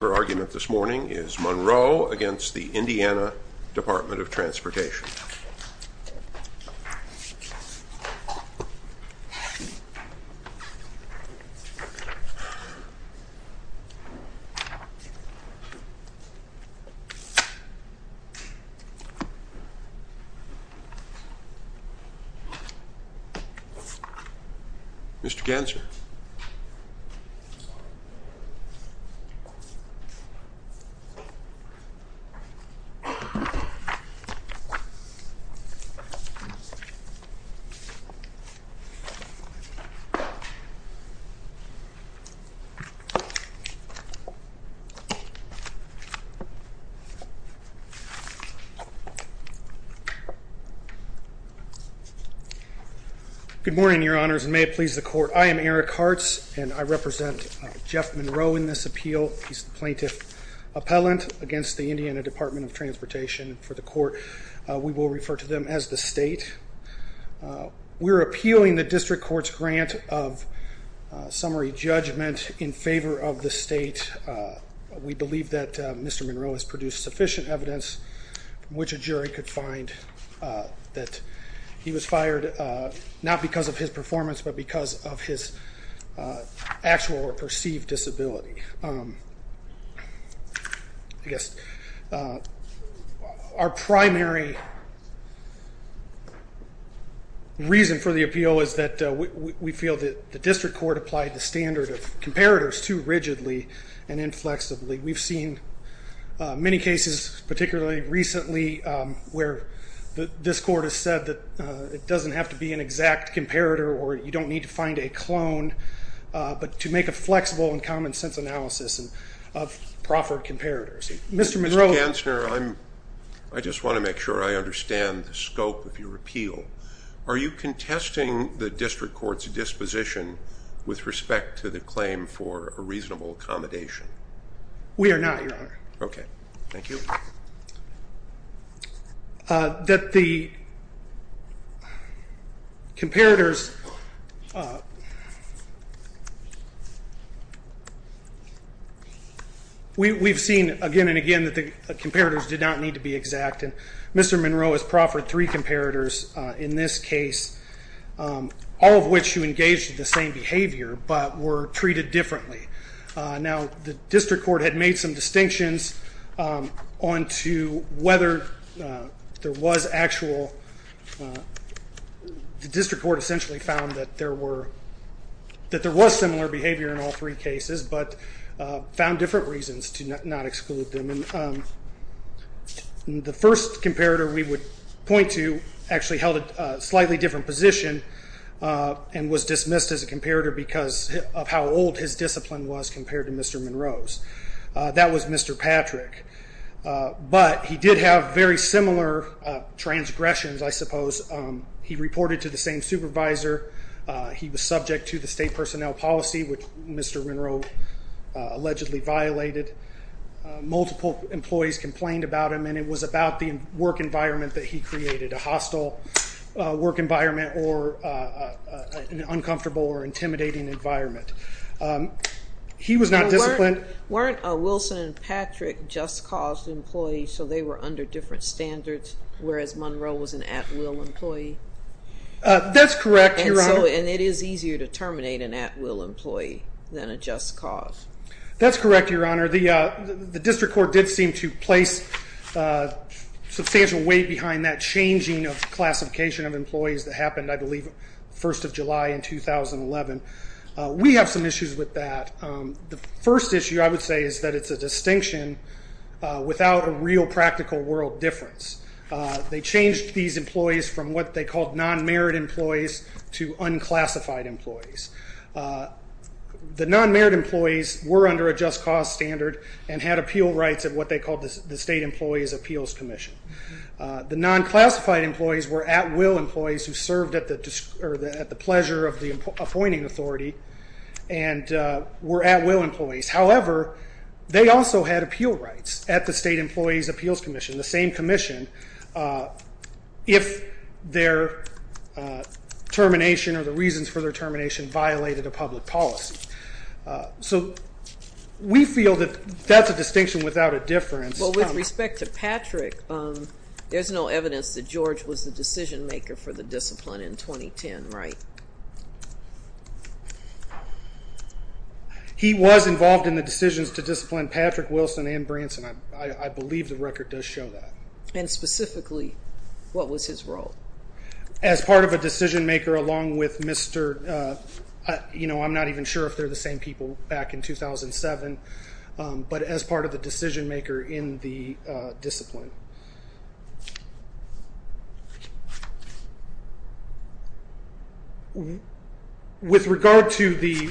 Her argument this morning is Monroe against the Indiana Department of Transportation. Mr. Ganser. Good morning, Your Honors, and may it please the court, I am Eric Hartz, and I represent Jeff Monroe in this appeal. He's the plaintiff appellant against the Indiana Department of Transportation for the court. We will refer to them as the state. We're appealing the district court's grant of summary judgment in favor of the state. We believe that Mr. Monroe has produced sufficient evidence from which a jury could find that he was fired not because of his performance but because of his actual or perceived disability. I guess our primary reason for the appeal is that we feel that the district court applied the standard of comparators too rigidly and inflexibly. We've seen many cases, particularly recently, where this court has said that it doesn't have to be an exact comparator or you don't need to find a clone, but to make a flexible and common sense analysis of proffered comparators. Mr. Monroe. Mr. Ganser, I just want to make sure I understand the scope of your appeal. Are you contesting the district court's disposition with respect to the claim for a reasonable accommodation? We are not, Your Honor. Okay, thank you. We've seen again and again that the comparators did not need to be exact. Mr. Monroe has proffered three comparators in this case, all of which who engaged in the same behavior but were treated differently. Now, the district court had made some distinctions on whether there was actual, the district court essentially found that there was similar behavior in all three cases but found different reasons to not exclude them. The first comparator we would point to actually held a slightly different position and was dismissed as a comparator because of how old his discipline was compared to Mr. Monroe's. That was Mr. Patrick, but he did have very similar transgressions, I suppose. He reported to the same supervisor. He was subject to the state personnel policy, which Mr. Monroe allegedly violated. Multiple employees complained about him and it was about the work environment that he created, a hostile work environment or an uncomfortable or intimidating environment. He was not disciplined. Weren't Wilson and Patrick just cause employees so they were under different standards whereas Monroe was an at-will employee? That's correct, Your Honor. And it is easier to terminate an at-will employee than a just cause? That's correct, Your Honor. The district court did seem to place substantial weight behind that changing of classification of employees that happened, I believe, first of July in 2011. We have some issues with that. The first issue I would say is that it's a distinction without a real practical world difference. They changed these employees from what they called non-merit employees to unclassified employees. The non-merit employees were under a just cause standard and had appeal rights at what they called the State Employees' Appeals Commission. The non-classified employees were at-will employees who served at the pleasure of the appointing authority and were at-will employees. However, they also had appeal rights at the State Employees' Appeals Commission, the same commission, if their termination or the So we feel that that's a distinction without a difference. Well, with respect to Patrick, there's no evidence that George was the decision-maker for the discipline in 2010, right? He was involved in the decisions to discipline Patrick, Wilson, and Branson. I believe the record does show that. And specifically, what was his role? As part of a decision-maker along with Mr. I'm not even sure if they're the same people back in 2007, but as part of the decision-maker in the discipline. With regard to the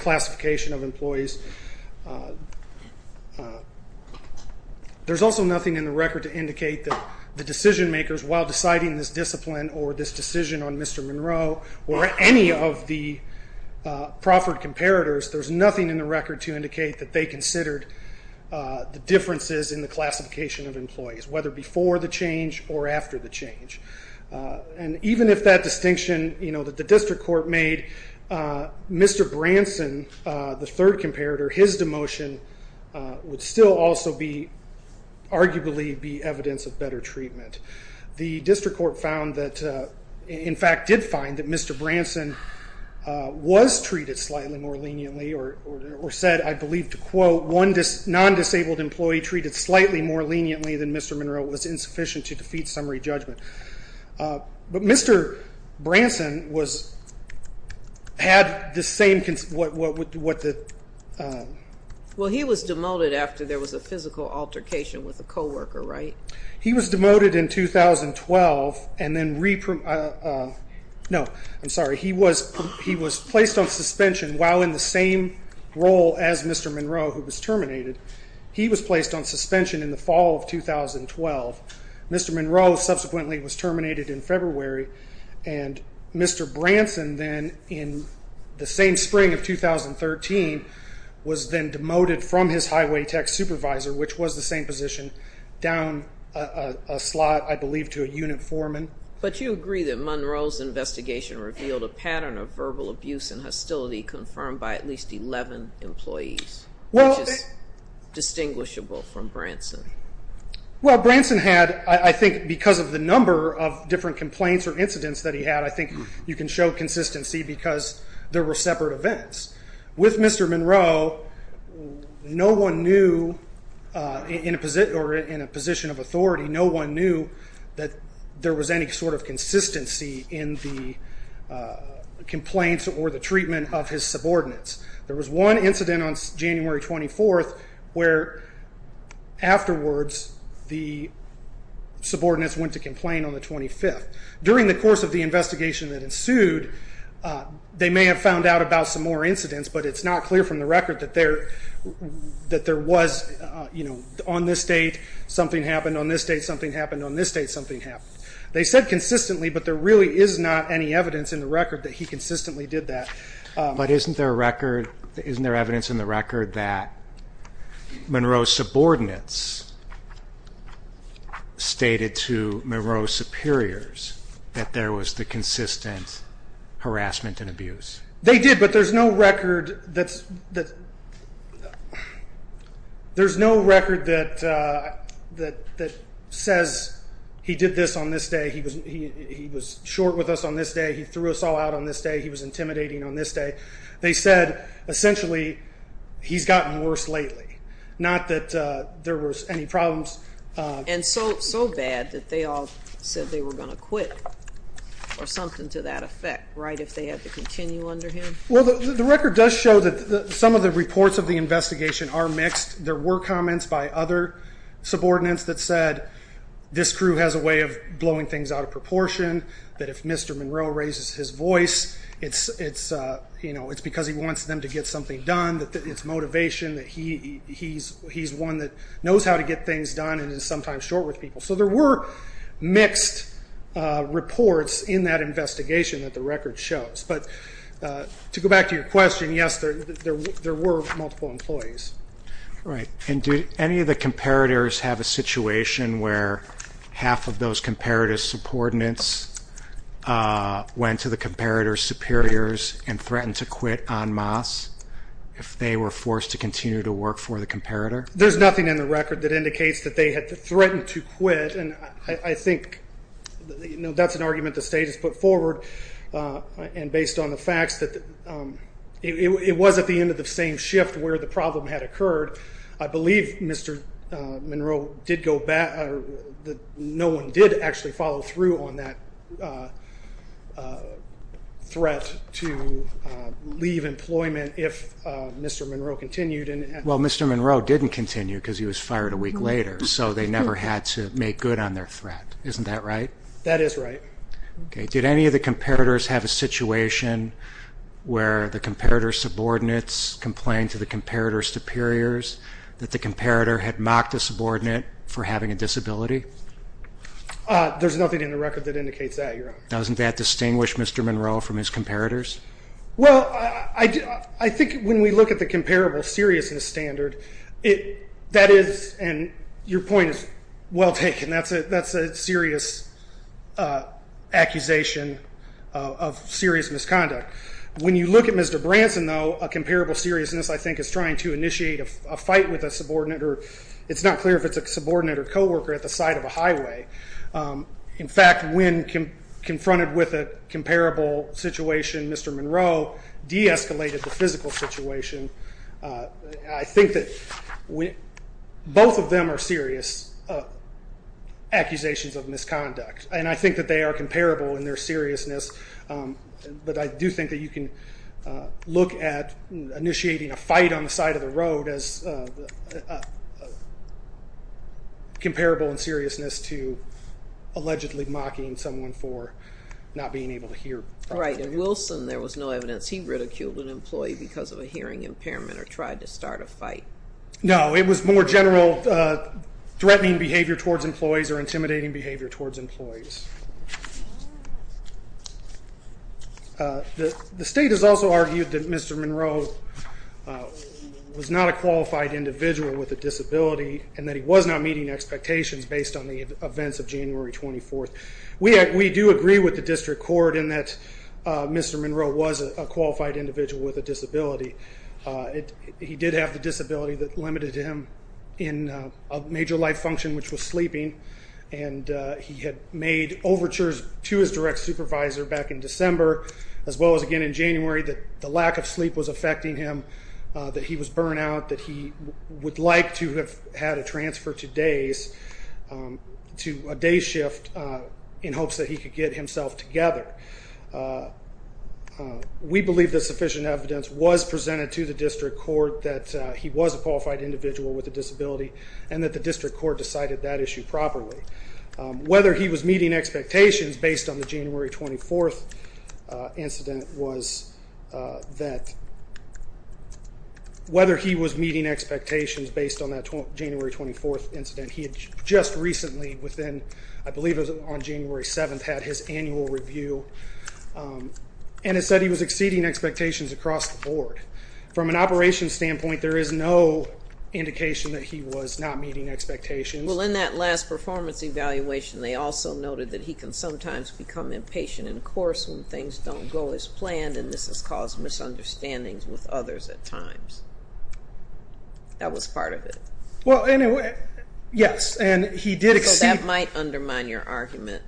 classification of employees, there's also nothing in the record to indicate that the decision-makers, while deciding this discipline or this decision on Mr. Monroe or any of the proffered comparators, there's nothing in the record to indicate that they considered the differences in the classification of employees, whether before the change or after the change. And even if that distinction that the district court made, Mr. Branson, the third comparator, his demotion would still also arguably be evidence of better treatment. The district court found that, in fact, did find that Mr. Branson was treated slightly more leniently or said, I believe to quote, one non-disabled employee treated slightly more leniently than Mr. Monroe was insufficient to defeat summary judgment. But Mr. Branson had the same... Well, he was demoted after there was a physical altercation with a co-worker, right? He was demoted in 2012 and then... No, I'm sorry. He was placed on suspension while in the same role as Mr. Monroe, who was terminated. He was placed on suspension in the fall of 2012. Mr. Monroe subsequently was terminated in February and Mr. Branson then in the same spring of 2013 was then demoted from his highway tech supervisor, which was the same position, down a slot, I believe, to a unit foreman. But you agree that Monroe's investigation revealed a pattern of verbal abuse and hostility confirmed by at least 11 employees, which is distinguishable from Branson. Well, Branson had, I think, because of the number of different complaints or incidents that he had, I think you can show consistency because there were separate events. With Mr. Monroe, no one knew, in a position of authority, no one knew that there was any sort of consistency in the complaints or the treatment of his subordinates. There was one incident on January 24th where afterwards the subordinates went to complain on the 25th. During the course of the investigation that ensued, they may have found out about some more incidents, but it's not clear from the record that there was, on this date something happened, on this date something happened. They said consistently, but there really is not any evidence in the record that he consistently did that. But isn't there a record, isn't there evidence in the record that Monroe's subordinates stated to Monroe's superiors that there was the consistent harassment and abuse? They did, but there's no record that's, that there's no record that says he did this on this day, he was short with us on this day, he threw us all out on this day, he was intimidating on this day. They said, essentially, he's gotten worse lately, not that there was any problems. And so bad that they all said they were going to quit, or something to that effect, right, if they had to continue under him? Well, the record does show that some of the investigations are mixed. There were comments by other subordinates that said, this crew has a way of blowing things out of proportion, that if Mr. Monroe raises his voice, it's because he wants them to get something done, that it's motivation, that he's one that knows how to get things done and is sometimes short with people. So there were mixed reports in that investigation that the employees. Right, and do any of the comparators have a situation where half of those comparator subordinates went to the comparator's superiors and threatened to quit en masse if they were forced to continue to work for the comparator? There's nothing in the record that indicates that they had threatened to quit, and I think, you know, that's an argument the state has put forward, and based on the facts that it was at the end of the same shift where the problem had occurred, I believe Mr. Monroe did go back, no one did actually follow through on that threat to leave employment if Mr. Monroe continued. Well, Mr. Monroe didn't continue because he was fired a week later, so they never had to make good on their threat. Isn't that right? That is right. Okay, did any of the comparators have a situation where the comparator subordinates complained to the comparator's superiors that the comparator had mocked a subordinate for having a disability? There's nothing in the record that indicates that, Your Honor. Doesn't that distinguish Mr. Monroe from his comparators? Well, I think when we look at the comparable seriousness standard, that is, and your point is well taken, that's a serious accusation of serious misconduct. When you look at Mr. Branson, though, a comparable seriousness, I think, is trying to initiate a fight with a subordinate, or it's not clear if it's a subordinate or co-worker at the side of a highway. In fact, when confronted with a comparable situation, Mr. Monroe de-escalated the physical situation. I think that both of them are serious accusations of misconduct, and I think that they are comparable in their seriousness, but I do think that you can look at initiating a fight on the side of the road as comparable in seriousness to allegedly mocking someone for not being able to hear. Right, and Wilson, there was no evidence he ridiculed an employee because of a hearing impairment or tried to start a fight. No, it was more general threatening behavior towards employees or intimidating behavior towards employees. The state has also argued that Mr. Monroe was not a qualified individual with a disability, and that he was not meeting expectations based on the events of January 24th. We do agree with District Court in that Mr. Monroe was a qualified individual with a disability. He did have the disability that limited him in a major life function, which was sleeping, and he had made overtures to his direct supervisor back in December, as well as again in January, that the lack of sleep was affecting him, that he was burnt out, that he would like to have had a day shift in hopes that he could get himself together. We believe that sufficient evidence was presented to the District Court that he was a qualified individual with a disability, and that the District Court decided that issue properly. Whether he was meeting expectations based on the January 24th incident was that, whether he was meeting expectations based on January 24th incident. He had just recently, I believe it was on January 7th, had his annual review, and it said he was exceeding expectations across the board. From an operations standpoint, there is no indication that he was not meeting expectations. Well, in that last performance evaluation, they also noted that he can sometimes become impatient and coarse when things don't go as planned, and this has caused misunderstandings with others at times. That was part of it. Yes, and he did exceed... So that might undermine your argument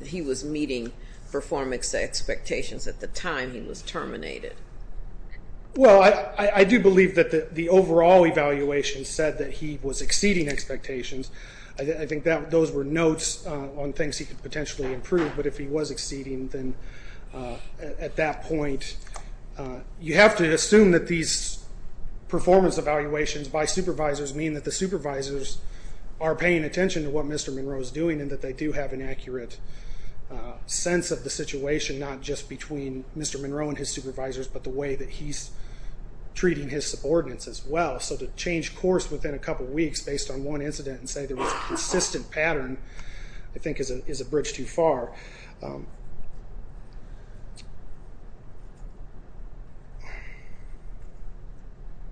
that he was meeting performance expectations at the time he was terminated. Well, I do believe that the overall evaluation said that he was exceeding expectations. I think those were notes on things he could potentially improve, but if he was exceeding, then at that point, you have to assume that these performance evaluations by supervisors mean that the supervisors are paying attention to what Mr. Monroe is doing, and that they do have an accurate sense of the situation, not just between Mr. Monroe and his supervisors, but the way that he's treating his subordinates as well. So to change course within a couple of weeks based on one evaluation, I think that would be a good thing to do.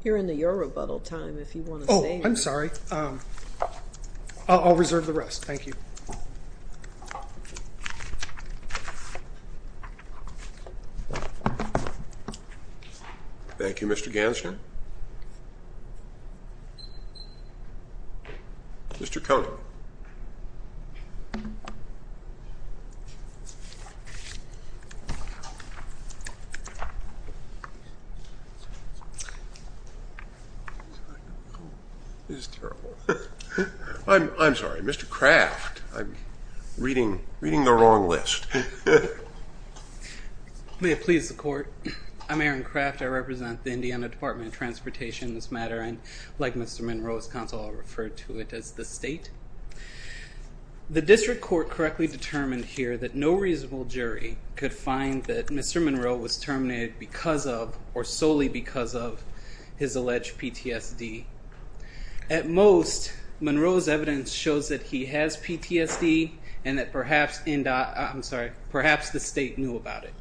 You're in the Eurobuttel time if you want to say anything. Oh, I'm sorry. I'll reserve the rest. Thank you. Thank you, Mr. Gansner. Mr. Conant. This is terrible. I'm sorry, Mr. Craft. I'm reading the wrong list. May it please the court. I'm Aaron Craft. I represent the Indiana Department of Transportation in this matter, and like Mr. Monroe's counsel, I'll refer to it as the state. The district court correctly determined here that no reasonable jury could find that Mr. Monroe was terminated because of, or solely because of, his alleged PTSD. At most, Monroe's evidence shows that he has PTSD, and that perhaps the state knew about it.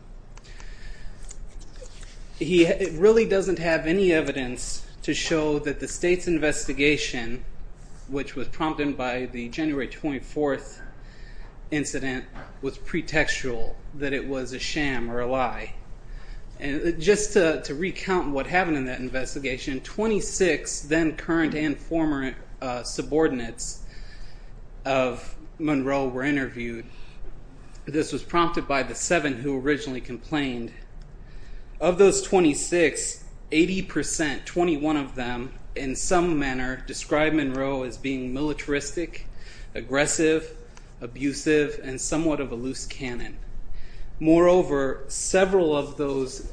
It really doesn't have any evidence to show that the state's investigation, which was prompted by the January 24th incident, was pretextual, that it was a sham or a lie. Just to recount what happened in that investigation, 26 then current and former subordinates of Monroe were interviewed. This was prompted by the seven who originally complained. Of those 26, 80%, 21 of them, in some manner, described Monroe as being militaristic, aggressive, abusive, and somewhat of a loose cannon. Moreover, several of those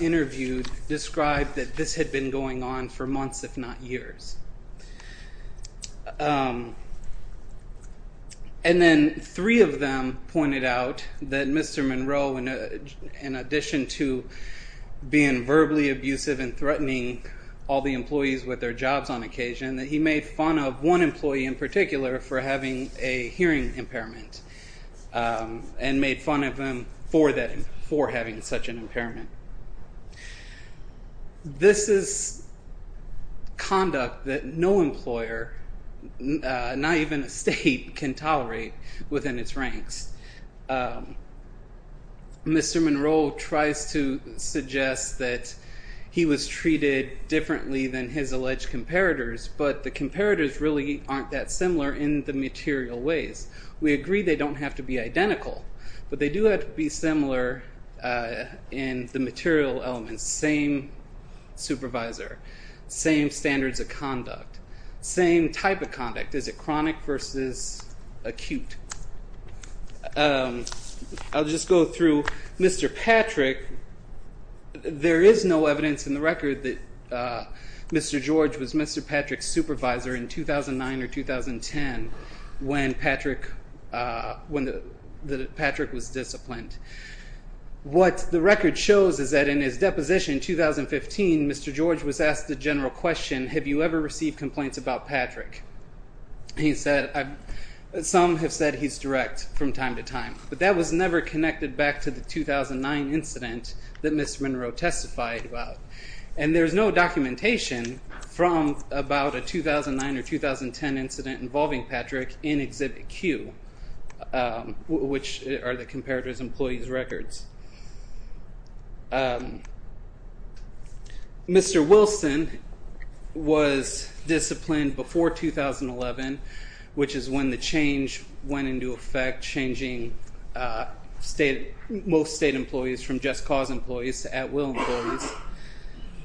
interviewed described that this had been going on for months, if not longer. In addition to being verbally abusive and threatening all the employees with their jobs on occasion, that he made fun of one employee in particular for having a hearing impairment, and made fun of them for having such an impairment. This is conduct that no employer, not even a state, can tolerate within its ranks. Mr. Monroe tries to suggest that he was treated differently than his alleged comparators, but the comparators really aren't that similar in the material ways. We agree they don't have to be identical, but they do have to be similar in the material elements. Same supervisor, same standards of conduct, same type of conduct. Is it chronic versus acute? I'll just go through Mr. Patrick. There is no evidence in the record that Mr. George was Mr. Patrick's supervisor in 2009 or 2010 when Patrick was disciplined. What the record shows is that in his deposition in 2015, Mr. George was asked the general question, have you ever received complaints about Patrick? Some have said he's direct from time to time, but that was never connected back to the 2009 incident that Mr. Monroe testified about, and there's no documentation from about a 2009 or 2010 incident involving Patrick in Exhibit Q, which are the comparator's employees records. Mr. Wilson was disciplined before 2011, which is when the change went into effect, changing most state employees from just-cause employees to at-will employees,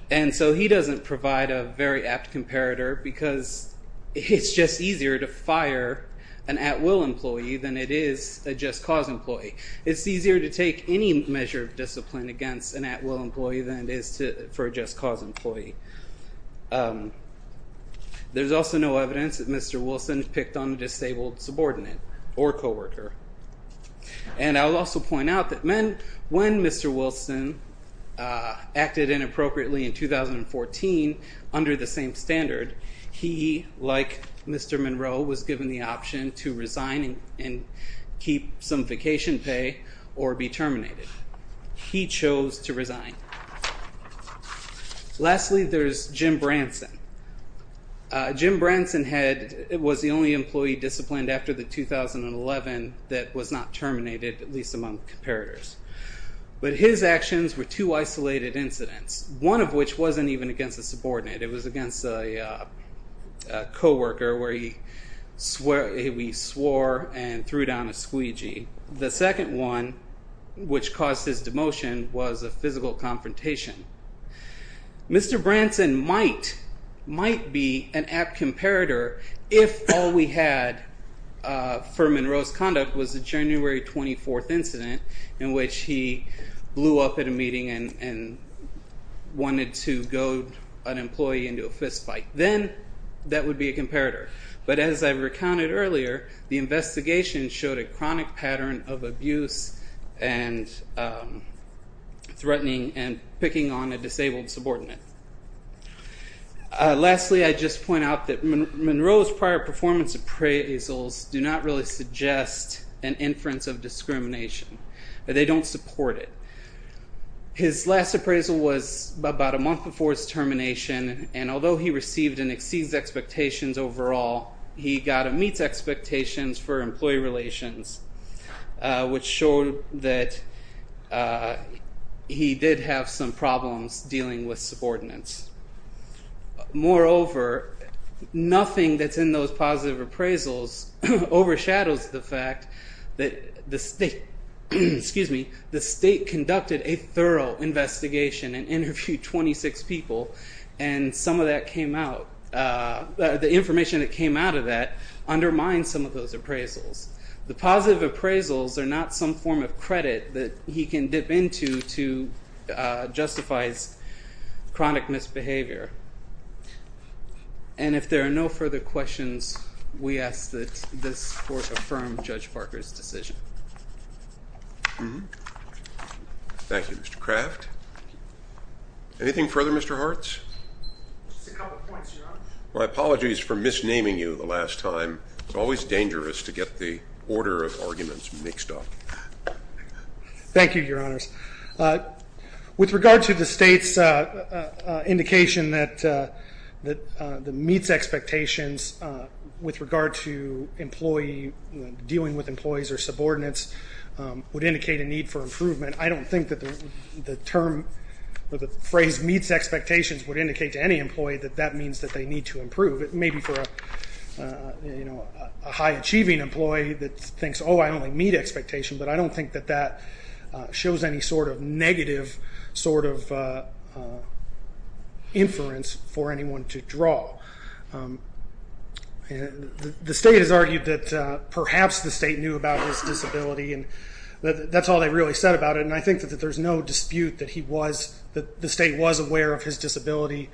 and so he doesn't provide a very apt comparator because it's just easier to fire an at-will employee than it is a just-cause employee. It's easier to take any measure of discipline against an at-will employee than it is for a just-cause employee. There's also no evidence that Mr. Wilson picked on a disabled subordinate or co-worker, and I'll also point out that when Mr. Wilson acted inappropriately in 2014 under the same standard, he, like Mr. Monroe, was given the option to resign and keep some vacation pay or be terminated. He chose to resign. Lastly, there's Jim Branson. Jim Branson was the only employee disciplined after the 2011 that was not terminated, at least among comparators, but his actions were two isolated incidents, one of which wasn't even against a subordinate. It was against a co-worker where he swore and threw down a squeegee. The second one, which caused his demotion, was a physical confrontation. Mr. Branson might be an apt comparator if all we had for Monroe's conduct was a January 24th incident in which he blew up at a meeting and wanted to goad an employee into a fistfight. Then that would be a comparator, but as I recounted earlier, the investigation showed a chronic pattern of abuse and threatening and picking on a disabled subordinate. Lastly, I just point out that Monroe's prior performance appraisals do not really suggest an inference of discrimination. They don't support it. His last appraisal was about a month before his termination, and although he received and exceeds expectations overall, he got meets and subordinates. Moreover, nothing that's in those positive appraisals overshadows the fact that the state conducted a thorough investigation and interviewed 26 people, and some of that came out. The information that came out of that undermined some of those appraisals. The positive appraisals are not some form of credit that he can dip into to justify his chronic misbehavior, and if there are no further questions, we ask that this Court affirm Judge Barker's decision. Thank you, Mr. Kraft. Anything further, Mr. Hartz? My apologies for misnaming you the last time. It's always dangerous to get the order of arguments mixed up. Thank you, Your Honors. With regard to the state's indication that the meets expectations with regard to dealing with employees or subordinates would indicate a need for improvement, I don't think that the term or the phrase meets expectations would indicate to any employee that that means that they need to improve. It may be for a high-achieving employee that thinks, oh, I only meet expectations, but I don't think that that shows any sort of negative inference for anyone to draw. The state has argued that perhaps the state knew about his disability, and that's all they really said about it, and I think that there's no dispute that the state was aware of his disability,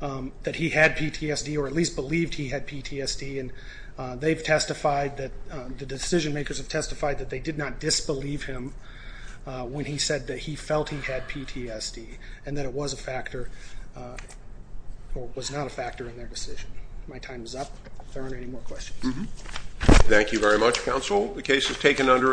that he had PTSD or at least believed he had PTSD, and they've testified that the decision makers have testified that they did not disbelieve him when he said that he felt he had PTSD and that it was a factor or was not a factor in their decision. My time is up. If there aren't any more questions. Thank you very much, Counsel. The case is taken under advisement.